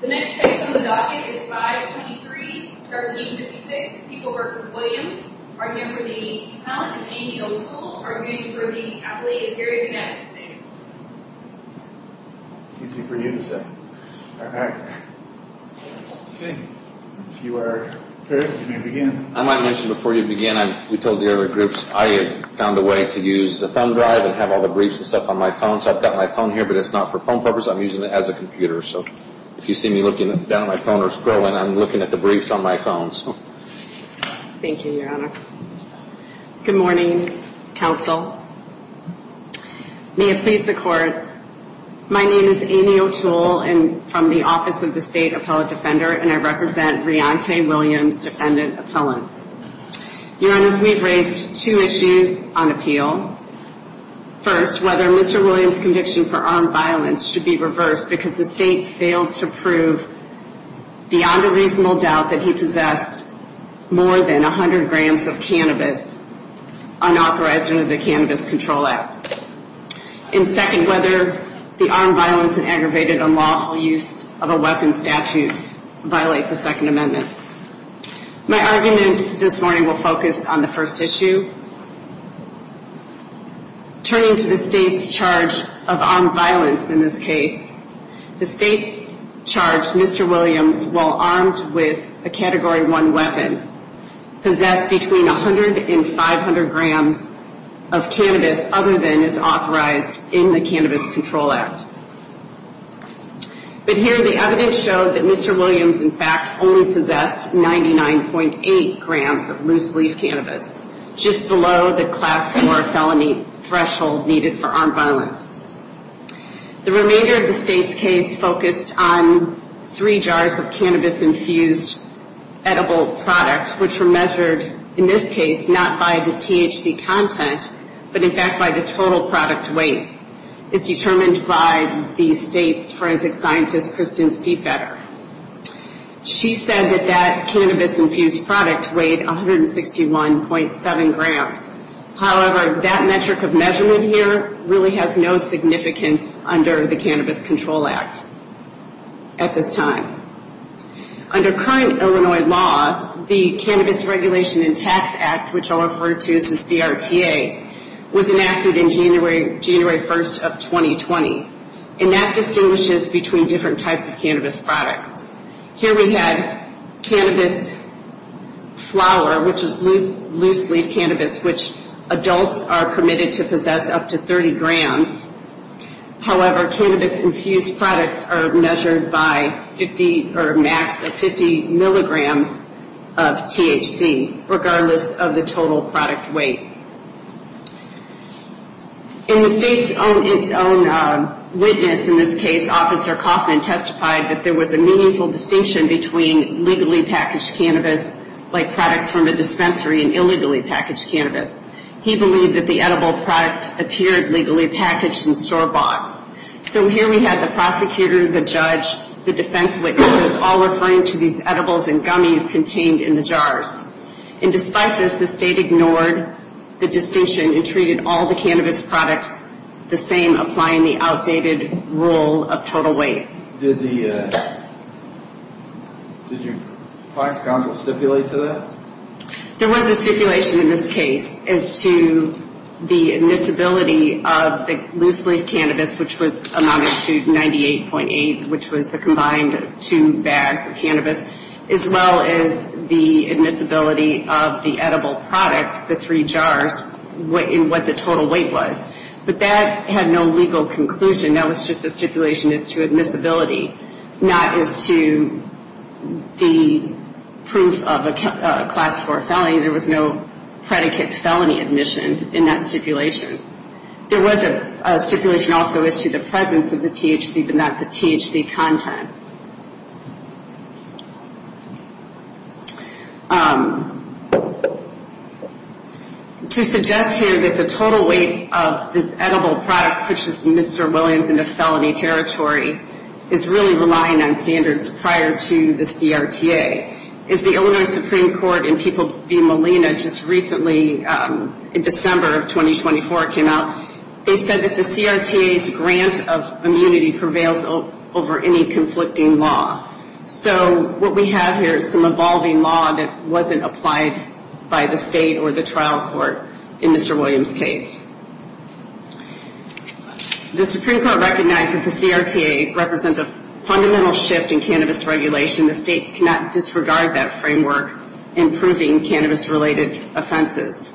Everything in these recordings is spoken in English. The next case on the docket is 523-1356, People v. Williams. We're here for the Talent and Amy O'Toole. Our jury for the athlete is Gary Vignette. If you see me looking down my phone or scrolling, I'm looking at the briefs on my phone. Thank you, Your Honor. Good morning, Counsel. May it please the Court, my name is Amy O'Toole, and I'm from the Office of the State Appellate Defender, and I represent Reontae Williams, Defendant Appellant. Your Honors, we've raised two issues on appeal. First, whether Mr. Williams' conviction for armed violence should be reversed because the State failed to prove, beyond a reasonable doubt, that he possessed more than 100 grams of cannabis, unauthorized under the Cannabis Control Act. And second, whether the armed violence and aggravated unlawful use of a weapon statute violates the Second Amendment. My argument this morning will focus on the first issue. Turning to the State's charge of armed violence in this case, the State charged Mr. Williams, while armed with a Category 1 weapon, possessed between 100 and 500 grams of cannabis other than is authorized in the Cannabis Control Act. But here the evidence showed that Mr. Williams, in fact, only possessed 99.8 grams of loose-leaf cannabis, just below the Class 4 felony threshold needed for armed violence. The remainder of the State's case focused on three jars of cannabis-infused edible product, which were measured, in this case, not by the THC content, but in fact by the total product weight. It's determined by the State's forensic scientist, Kristen Stiefetter. She said that that cannabis-infused product weighed 161.7 grams. However, that metric of measurement here really has no significance under the Cannabis Control Act at this time. Under current Illinois law, the Cannabis Regulation and Tax Act, which I'll refer to as the CRTA, was enacted in January 1st of 2020, and that distinguishes between different types of cannabis products. Here we had cannabis flower, which is loose-leaf cannabis, which adults are permitted to possess up to 30 grams. However, cannabis-infused products are measured by 50 or max at 50 milligrams of THC, regardless of the total product weight. In the State's own witness in this case, Officer Kaufman testified that there was a meaningful distinction between legally packaged cannabis, like products from a dispensary, and illegally packaged cannabis. He believed that the edible product appeared legally packaged and store-bought. So here we had the prosecutor, the judge, the defense witnesses all referring to these edibles and gummies contained in the jars. And despite this, the State ignored the distinction and treated all the cannabis products the same, applying the outdated rule of total weight. Did your client's counsel stipulate to that? There was a stipulation in this case as to the admissibility of the loose-leaf cannabis, which was amounted to 98.8, which was the combined two bags of cannabis, as well as the admissibility of the edible product, the three jars, and what the total weight was. But that had no legal conclusion. That was just a stipulation as to admissibility, not as to the proof of a class four felony. There was no predicate felony admission in that stipulation. There was a stipulation also as to the presence of the THC, but not the THC content. To suggest here that the total weight of this edible product, which is Mr. Williams in a felony territory, is really relying on standards prior to the CRTA. As the Illinois Supreme Court and people being Molina just recently in December of 2024 came out, they said that the CRTA's grant of immunity prevails over any conflict of interest. So what we have here is some evolving law that wasn't applied by the state or the trial court in Mr. Williams' case. The Supreme Court recognized that the CRTA represents a fundamental shift in cannabis regulation. The state cannot disregard that framework in proving cannabis-related offenses.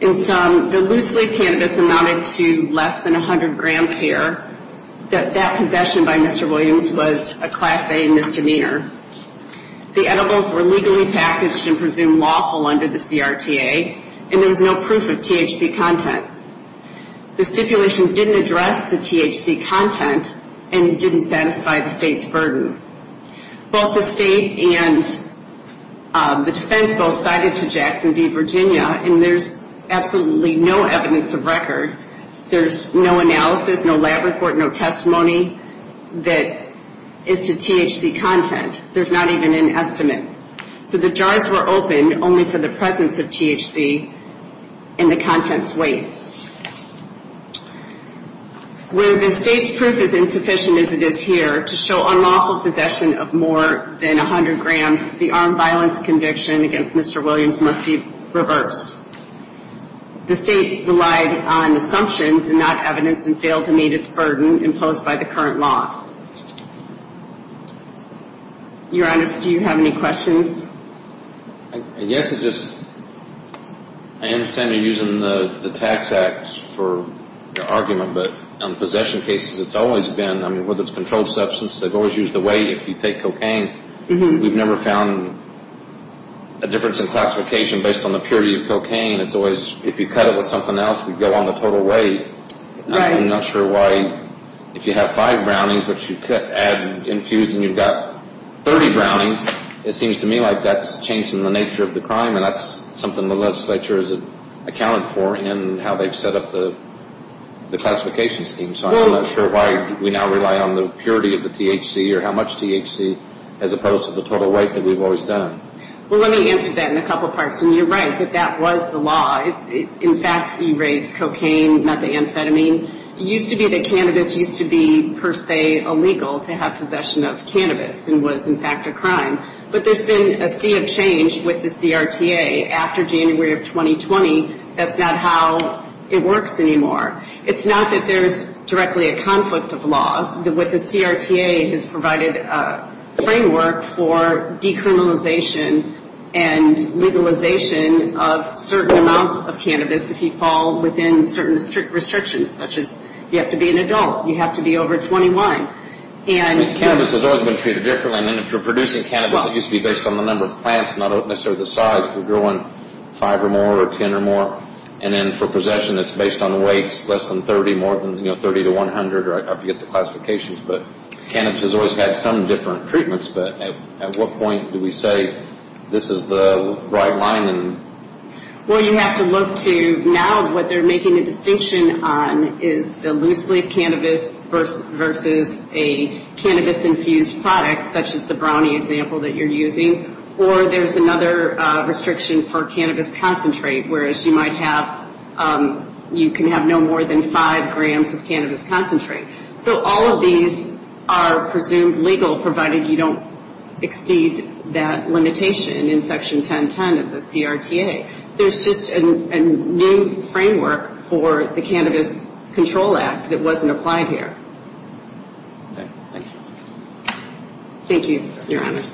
In sum, the loose leaf cannabis amounted to less than 100 grams here. That possession by Mr. Williams was a class A misdemeanor. The edibles were legally packaged and presumed lawful under the CRTA, and there was no proof of THC content. The stipulation didn't address the THC content and didn't satisfy the state's burden. Both the state and the defense both cited to Jackson v. Virginia, and there's absolutely no evidence of record. There's no analysis, no lab report, no testimony that is to THC content. There's not even an estimate. So the jars were opened only for the presence of THC and the content's weight. Where the state's proof is insufficient as it is here, to show unlawful possession of more than 100 grams, the armed violence conviction against Mr. Williams must be reversed. The state relied on assumptions and not evidence and failed to meet its burden imposed by the current law. Your Honors, do you have any questions? I guess it's just, I understand you're using the Tax Act for your argument, but on possession cases, it's always been, I mean, whether it's controlled substance, they've always used the weight if you take cocaine. We've never found a difference in classification based on the purity of cocaine. It's always, if you cut it with something else, we'd go on the total weight. I'm not sure why, if you have five brownies, but you add infused and you've got 30 brownies, it seems to me like that's changing the nature of the crime, and that's something the legislature has accounted for in how they've set up the classification scheme. So I'm not sure why we now rely on the purity of the THC or how much THC, as opposed to the total weight that we've always done. Well, let me answer that in a couple parts. And you're right that that was the law. In fact, you raised cocaine, not the amphetamine. It used to be that cannabis used to be, per se, illegal to have possession of cannabis, and was, in fact, a crime. But there's been a sea of change with the CRTA after January of 2020. That's not how it works anymore. It's not that there's directly a conflict of law. The CRTA has provided a framework for decriminalization and legalization of certain amounts of cannabis if you fall within certain restrictions, such as you have to be an adult, you have to be over 21. Cannabis has always been treated differently. And if you're producing cannabis, it used to be based on the number of plants, not necessarily the size. If you're growing five or more or ten or more, and then for possession it's based on the weights, less than 30, more than 30 to 100, or I forget the classifications. But cannabis has always had some different treatments. But at what point do we say this is the right line? Well, you have to look to now what they're making a distinction on is the loose-leaf cannabis versus a cannabis-infused product, such as the brownie example that you're using. Or there's another restriction for cannabis concentrate, whereas you can have no more than five grams of cannabis concentrate. So all of these are presumed legal, provided you don't exceed that limitation in Section 1010 of the CRTA. There's just a new framework for the Cannabis Control Act that wasn't applied here. Okay, thank you. Thank you, Your Honors.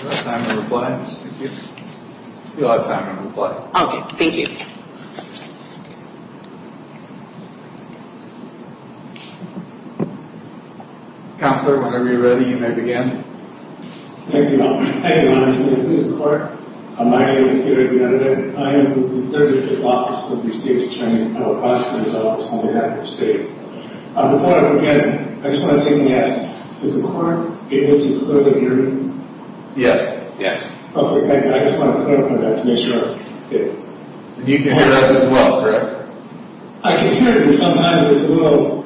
Do I have time to reply? You'll have time to reply. Okay, thank you. Counselor, whenever you're ready, you may begin. Thank you, Your Honor. Your Honor, can I please introduce the court? My name is Gary Villanueva. I am the 35th Officer of the State's Chinese Appellate Prosecutor's Office in the United States. Before I begin, I just want to take a guess. Is the court able to clearly hear me? Yes, yes. Okay, I just want to clarify that to make sure I'm clear. You can hear us as well, correct? I can hear you. Sometimes there's a little,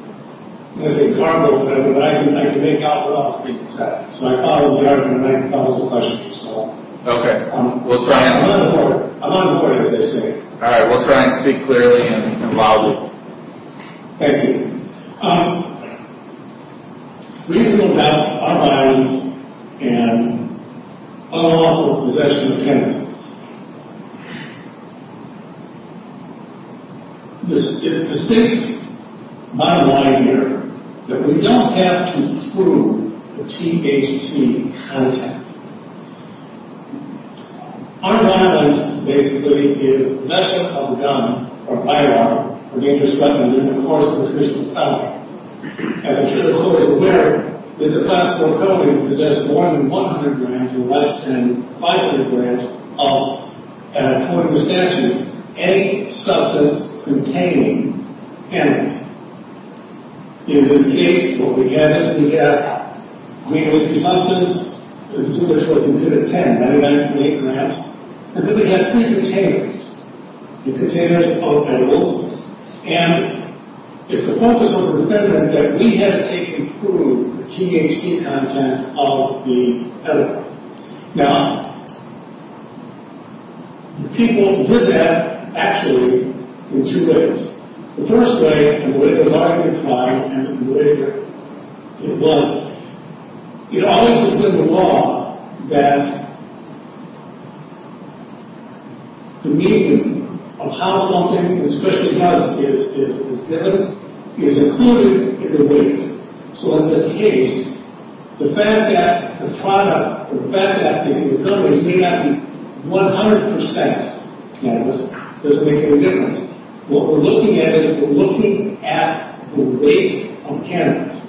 let's say, garbled, but I can make out what all is being said. So I follow the argument. I can follow the questions you solve. Okay. I'm on the way, as they say. All right, we'll try and speak clearly and loudly. Thank you. We still have our minds in unlawful possession of cannabis. The State's bottom line here is that we don't have to prove the THC content. Our violence, basically, is possession of a gun or firearm or dangerous weapon in the course of official felony. As I'm sure the court is aware, this is a class 4 felony that possesses more than 100 grams or less than 500 grams of, according to statute, any substance containing cannabis. In this case, what we have is we have mainly two substances, the two which was considered 10, methamphetamine, and then we have three containers, the containers of methamphetamine. And it's the focus of the defendant that we had to take and prove the THC content of the evidence. Now, the people did that, actually, in two ways. The first way, and the way it was already implied, and the way it was, it always has been the law that the medium of how something, especially drugs, is given is included in the weight. So in this case, the fact that the product, the fact that the companies may not be 100% cannabis doesn't make any difference. What we're looking at is we're looking at the weight of cannabis.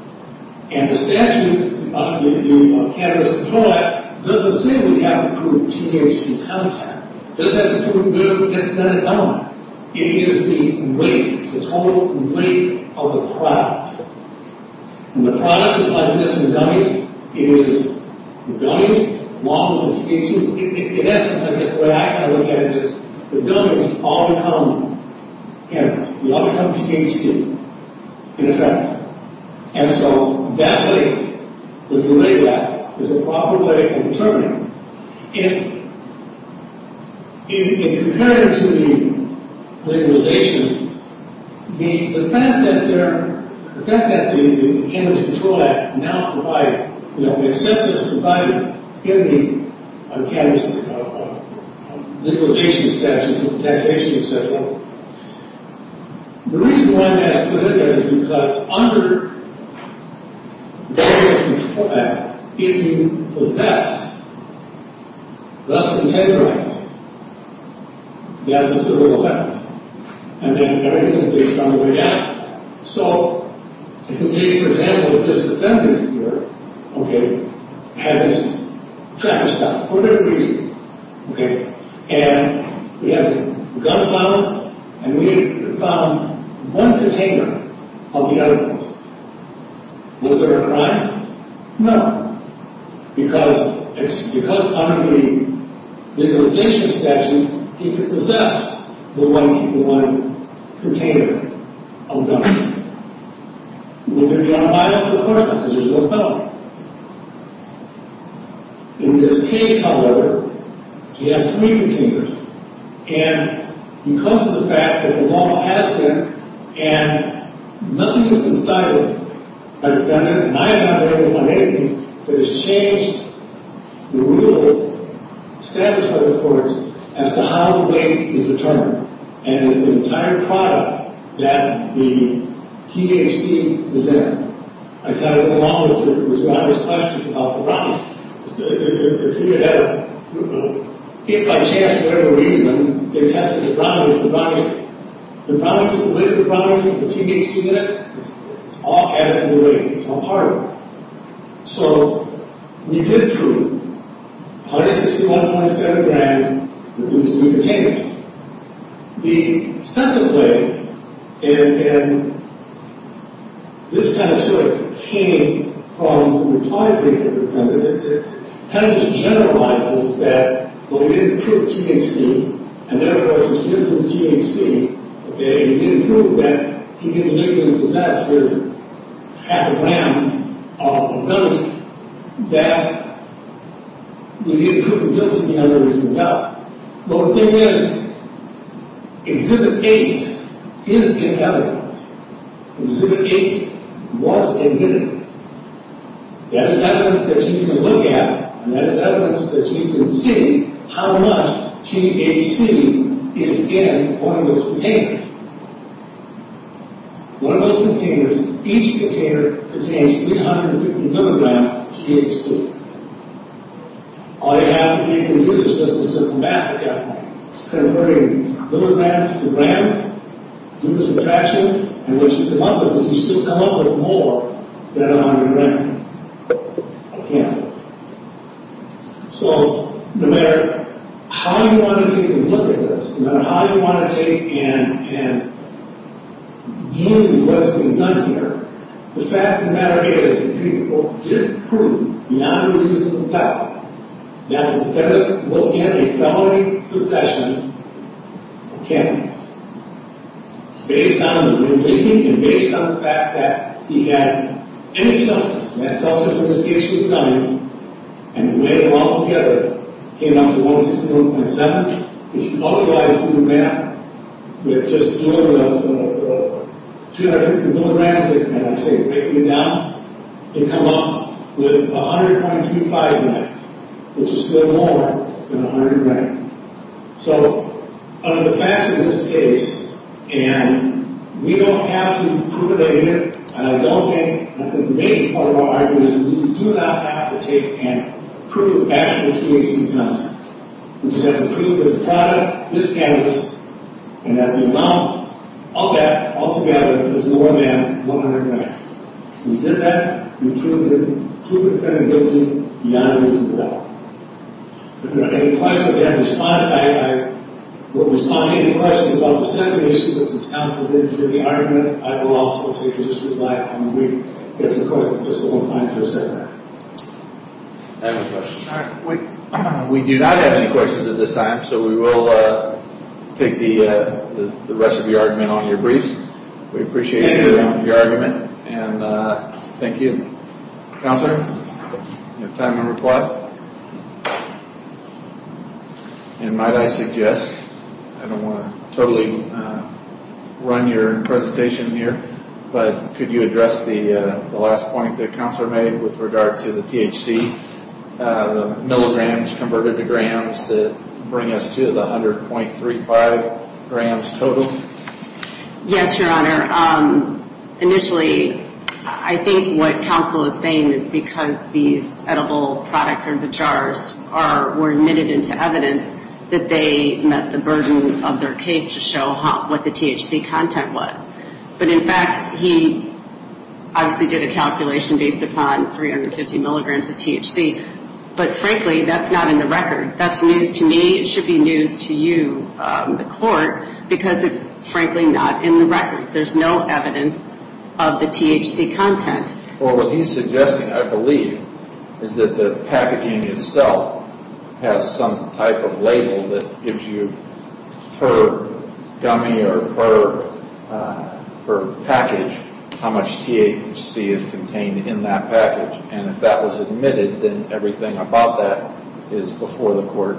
And the statute, the Cannabis Control Act, doesn't say we have to prove THC content. It doesn't have to prove that it's not a gun. It is the weight, it's the total weight of the product. And the product is like this in the dummies. It is the dummies, water, and THC. In essence, I guess the way I kind of look at it is the dummies all become cannabis. They all become THC, in effect. And so that weight, that you weigh that, is the proper way of determining. In comparison to the legalization, the fact that the Cannabis Control Act now provides, you know, they accept this provided in the legalization statute, the taxation statute, the reason why that's prohibited is because under the Cannabis Control Act, if you possess less than 10 grams, that's a civil offense. And then everything is based on the weight added to that. So, if you take, for example, this defendant here, okay, had this traffic stop for whatever reason, okay, and we have the gun found, and we have found one container of the evidence. Was there a crime? No. Because under the legalization statute, he could possess the one container of the evidence. Would there be unbiased? Of course not, because there's no felony. In this case, however, you have three containers. And because of the fact that the law has been, and nothing has been cited by the defendant, and I have not been able to find anything that has changed the rule established by the courts as to how the weight is determined, and it's the entire product that the THC is in. I thought along with it was various questions about the brownies. If he had ever, hit by chance for whatever reason, they tested the brownies, the brownies, the weight of the brownies, the THC in it, it's all added to the weight, it's all part of it. So, we did prove 161.7 grams with these three containers. The second way, and this kind of sort of came from the reply brief of the defendant, kind of just generalizes that, well, you didn't prove the THC, and therefore it's a different THC, and you didn't prove that, he didn't even possess his half a gram of evidence, that you didn't prove the guilt of the underage adult. Well, the thing is, Exhibit 8 is an evidence. Exhibit 8 was admitted. That is evidence that you can look at, and that is evidence that you can see how much THC is in one of those containers. One of those containers, each container contains 350 milligrams of THC. All you have to do is just the simple math of that thing. Converting milligrams to grams, do the subtraction, and what you come up with is you still come up with more than a hundred grams of cannabis. So, no matter how you want to take a look at this, no matter how you want to take and view what's being done here, the fact of the matter is that people did prove beyond reasonable doubt that the defendant was in a felony possession of cannabis. Based on the reading and based on the fact that he had any substance, and that substance in this case was gummies, and the way they all together came up to 161.7, if you multiply it through the math, with just doing the milligrams that I say, breaking it down, you come up with 100.35 grams, which is still more than 100 grams. So, under the facts of this case, and we don't have to prove that either, and I don't think, and I think the main part of our argument is we do not have to take and prove actual THC content. We just have to prove that the product is cannabis, and that the amount of that all together is more than 100 grams. We did that, we proved the defendant guilty beyond reasonable doubt. If there are any questions, if I have to respond, if I were to respond to any questions about the sentencing, which is counseled into the argument, I will also take a risk with my own reading. If the court is still inclined to accept that. Any questions? We do not have any questions at this time, so we will take the rest of the argument on your briefs. We appreciate your argument, and thank you. Counselor, you have time to reply. And might I suggest, I don't want to totally run your presentation here, but could you address the last point that Counselor made with regard to the THC, the milligrams converted to grams that bring us to the 100.35 grams total? Yes, Your Honor. Initially, I think what Counsel is saying is because these edible product, or the jars, were admitted into evidence, that they met the burden of their case to show what the THC content was. But in fact, he obviously did a calculation based upon 350 milligrams of THC. But frankly, that's not in the record. That's news to me. It should be news to you, the court, because it's frankly not in the record. There's no evidence of the THC content. Well, what he's suggesting, I believe, is that the packaging itself has some type of label that gives you, per gummy or per package, how much THC is contained in that package. And if that was admitted, then everything about that is before the court.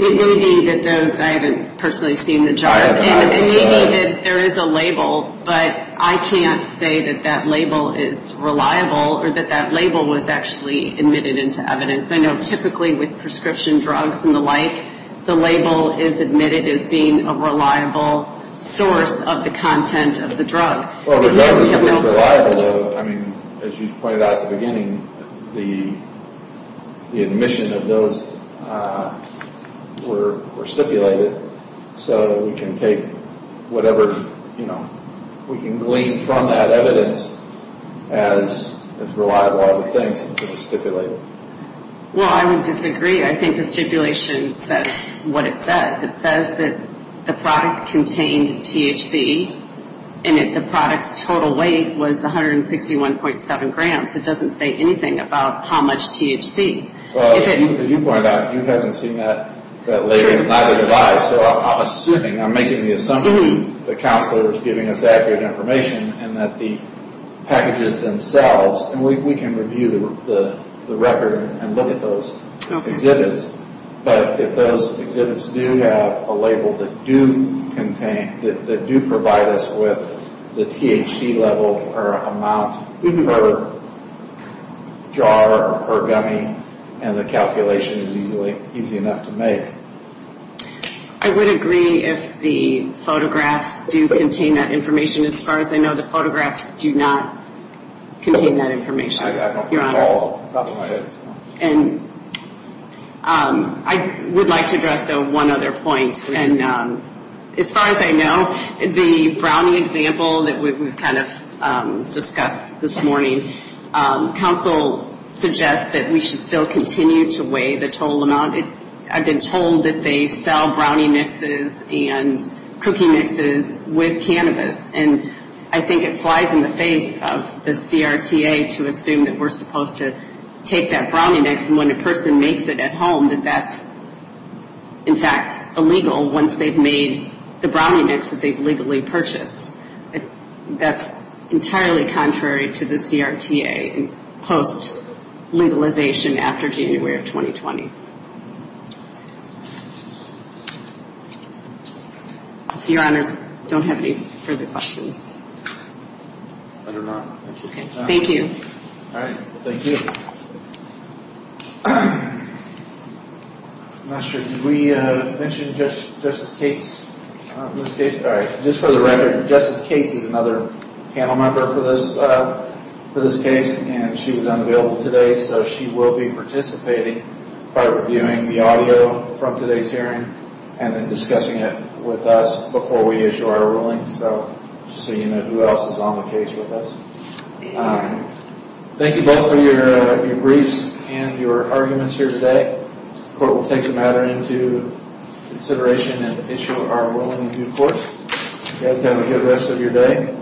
It may be that those, I haven't personally seen the jars. It may be that there is a label, but I can't say that that label is reliable, or that that label was actually admitted into evidence. I know typically with prescription drugs and the like, the label is admitted as being a reliable source of the content of the drug. Well, the drug isn't reliable. I mean, as you pointed out at the beginning, the admission of those were stipulated, so we can take whatever, you know, we can glean from that evidence as reliable other things, and sort of stipulate it. Well, I would disagree. I think the stipulation says what it says. It says that the product contained THC, and that the product's total weight was 161.7 grams. It doesn't say anything about how much THC. Well, as you pointed out, you haven't seen that label. So I'm assuming, I'm making the assumption that the counselor is giving us accurate information, and that the packages themselves, and we can review the record and look at those exhibits, but if those exhibits do have a label that do contain, that do provide us with the THC level or amount, we can go to a jar or a gummy, and the calculation is easy enough to make. I would agree if the photographs do contain that information. As far as I know, the photographs do not contain that information, Your Honor. I don't know at all. And I would like to address, though, one other point. And as far as I know, the brownie example that we've kind of discussed this morning, counsel suggests that we should still continue to weigh the total amount. I've been told that they sell brownie mixes and cookie mixes with cannabis. And I think it flies in the face of the CRTA to assume that we're supposed to take that brownie mix and when a person makes it at home, that that's, in fact, illegal once they've made the brownie mix that they've legally purchased. That's entirely contrary to the CRTA post-legalization after January of 2020. Your Honors, I don't have any further questions. I do not. Thank you. All right. Thank you. I'm not sure. Did we mention Justice Cates in this case? All right. Just for the record, Justice Cates is another panel member for this case, and she was unavailable today, so she will be participating by reviewing the audio from today's hearing and then discussing it with us before we issue our ruling, just so you know who else is on the case with us. Thank you both for your briefs and your arguments here today. The Court will take the matter into consideration and issue our ruling in due course. You guys have a good rest of your day.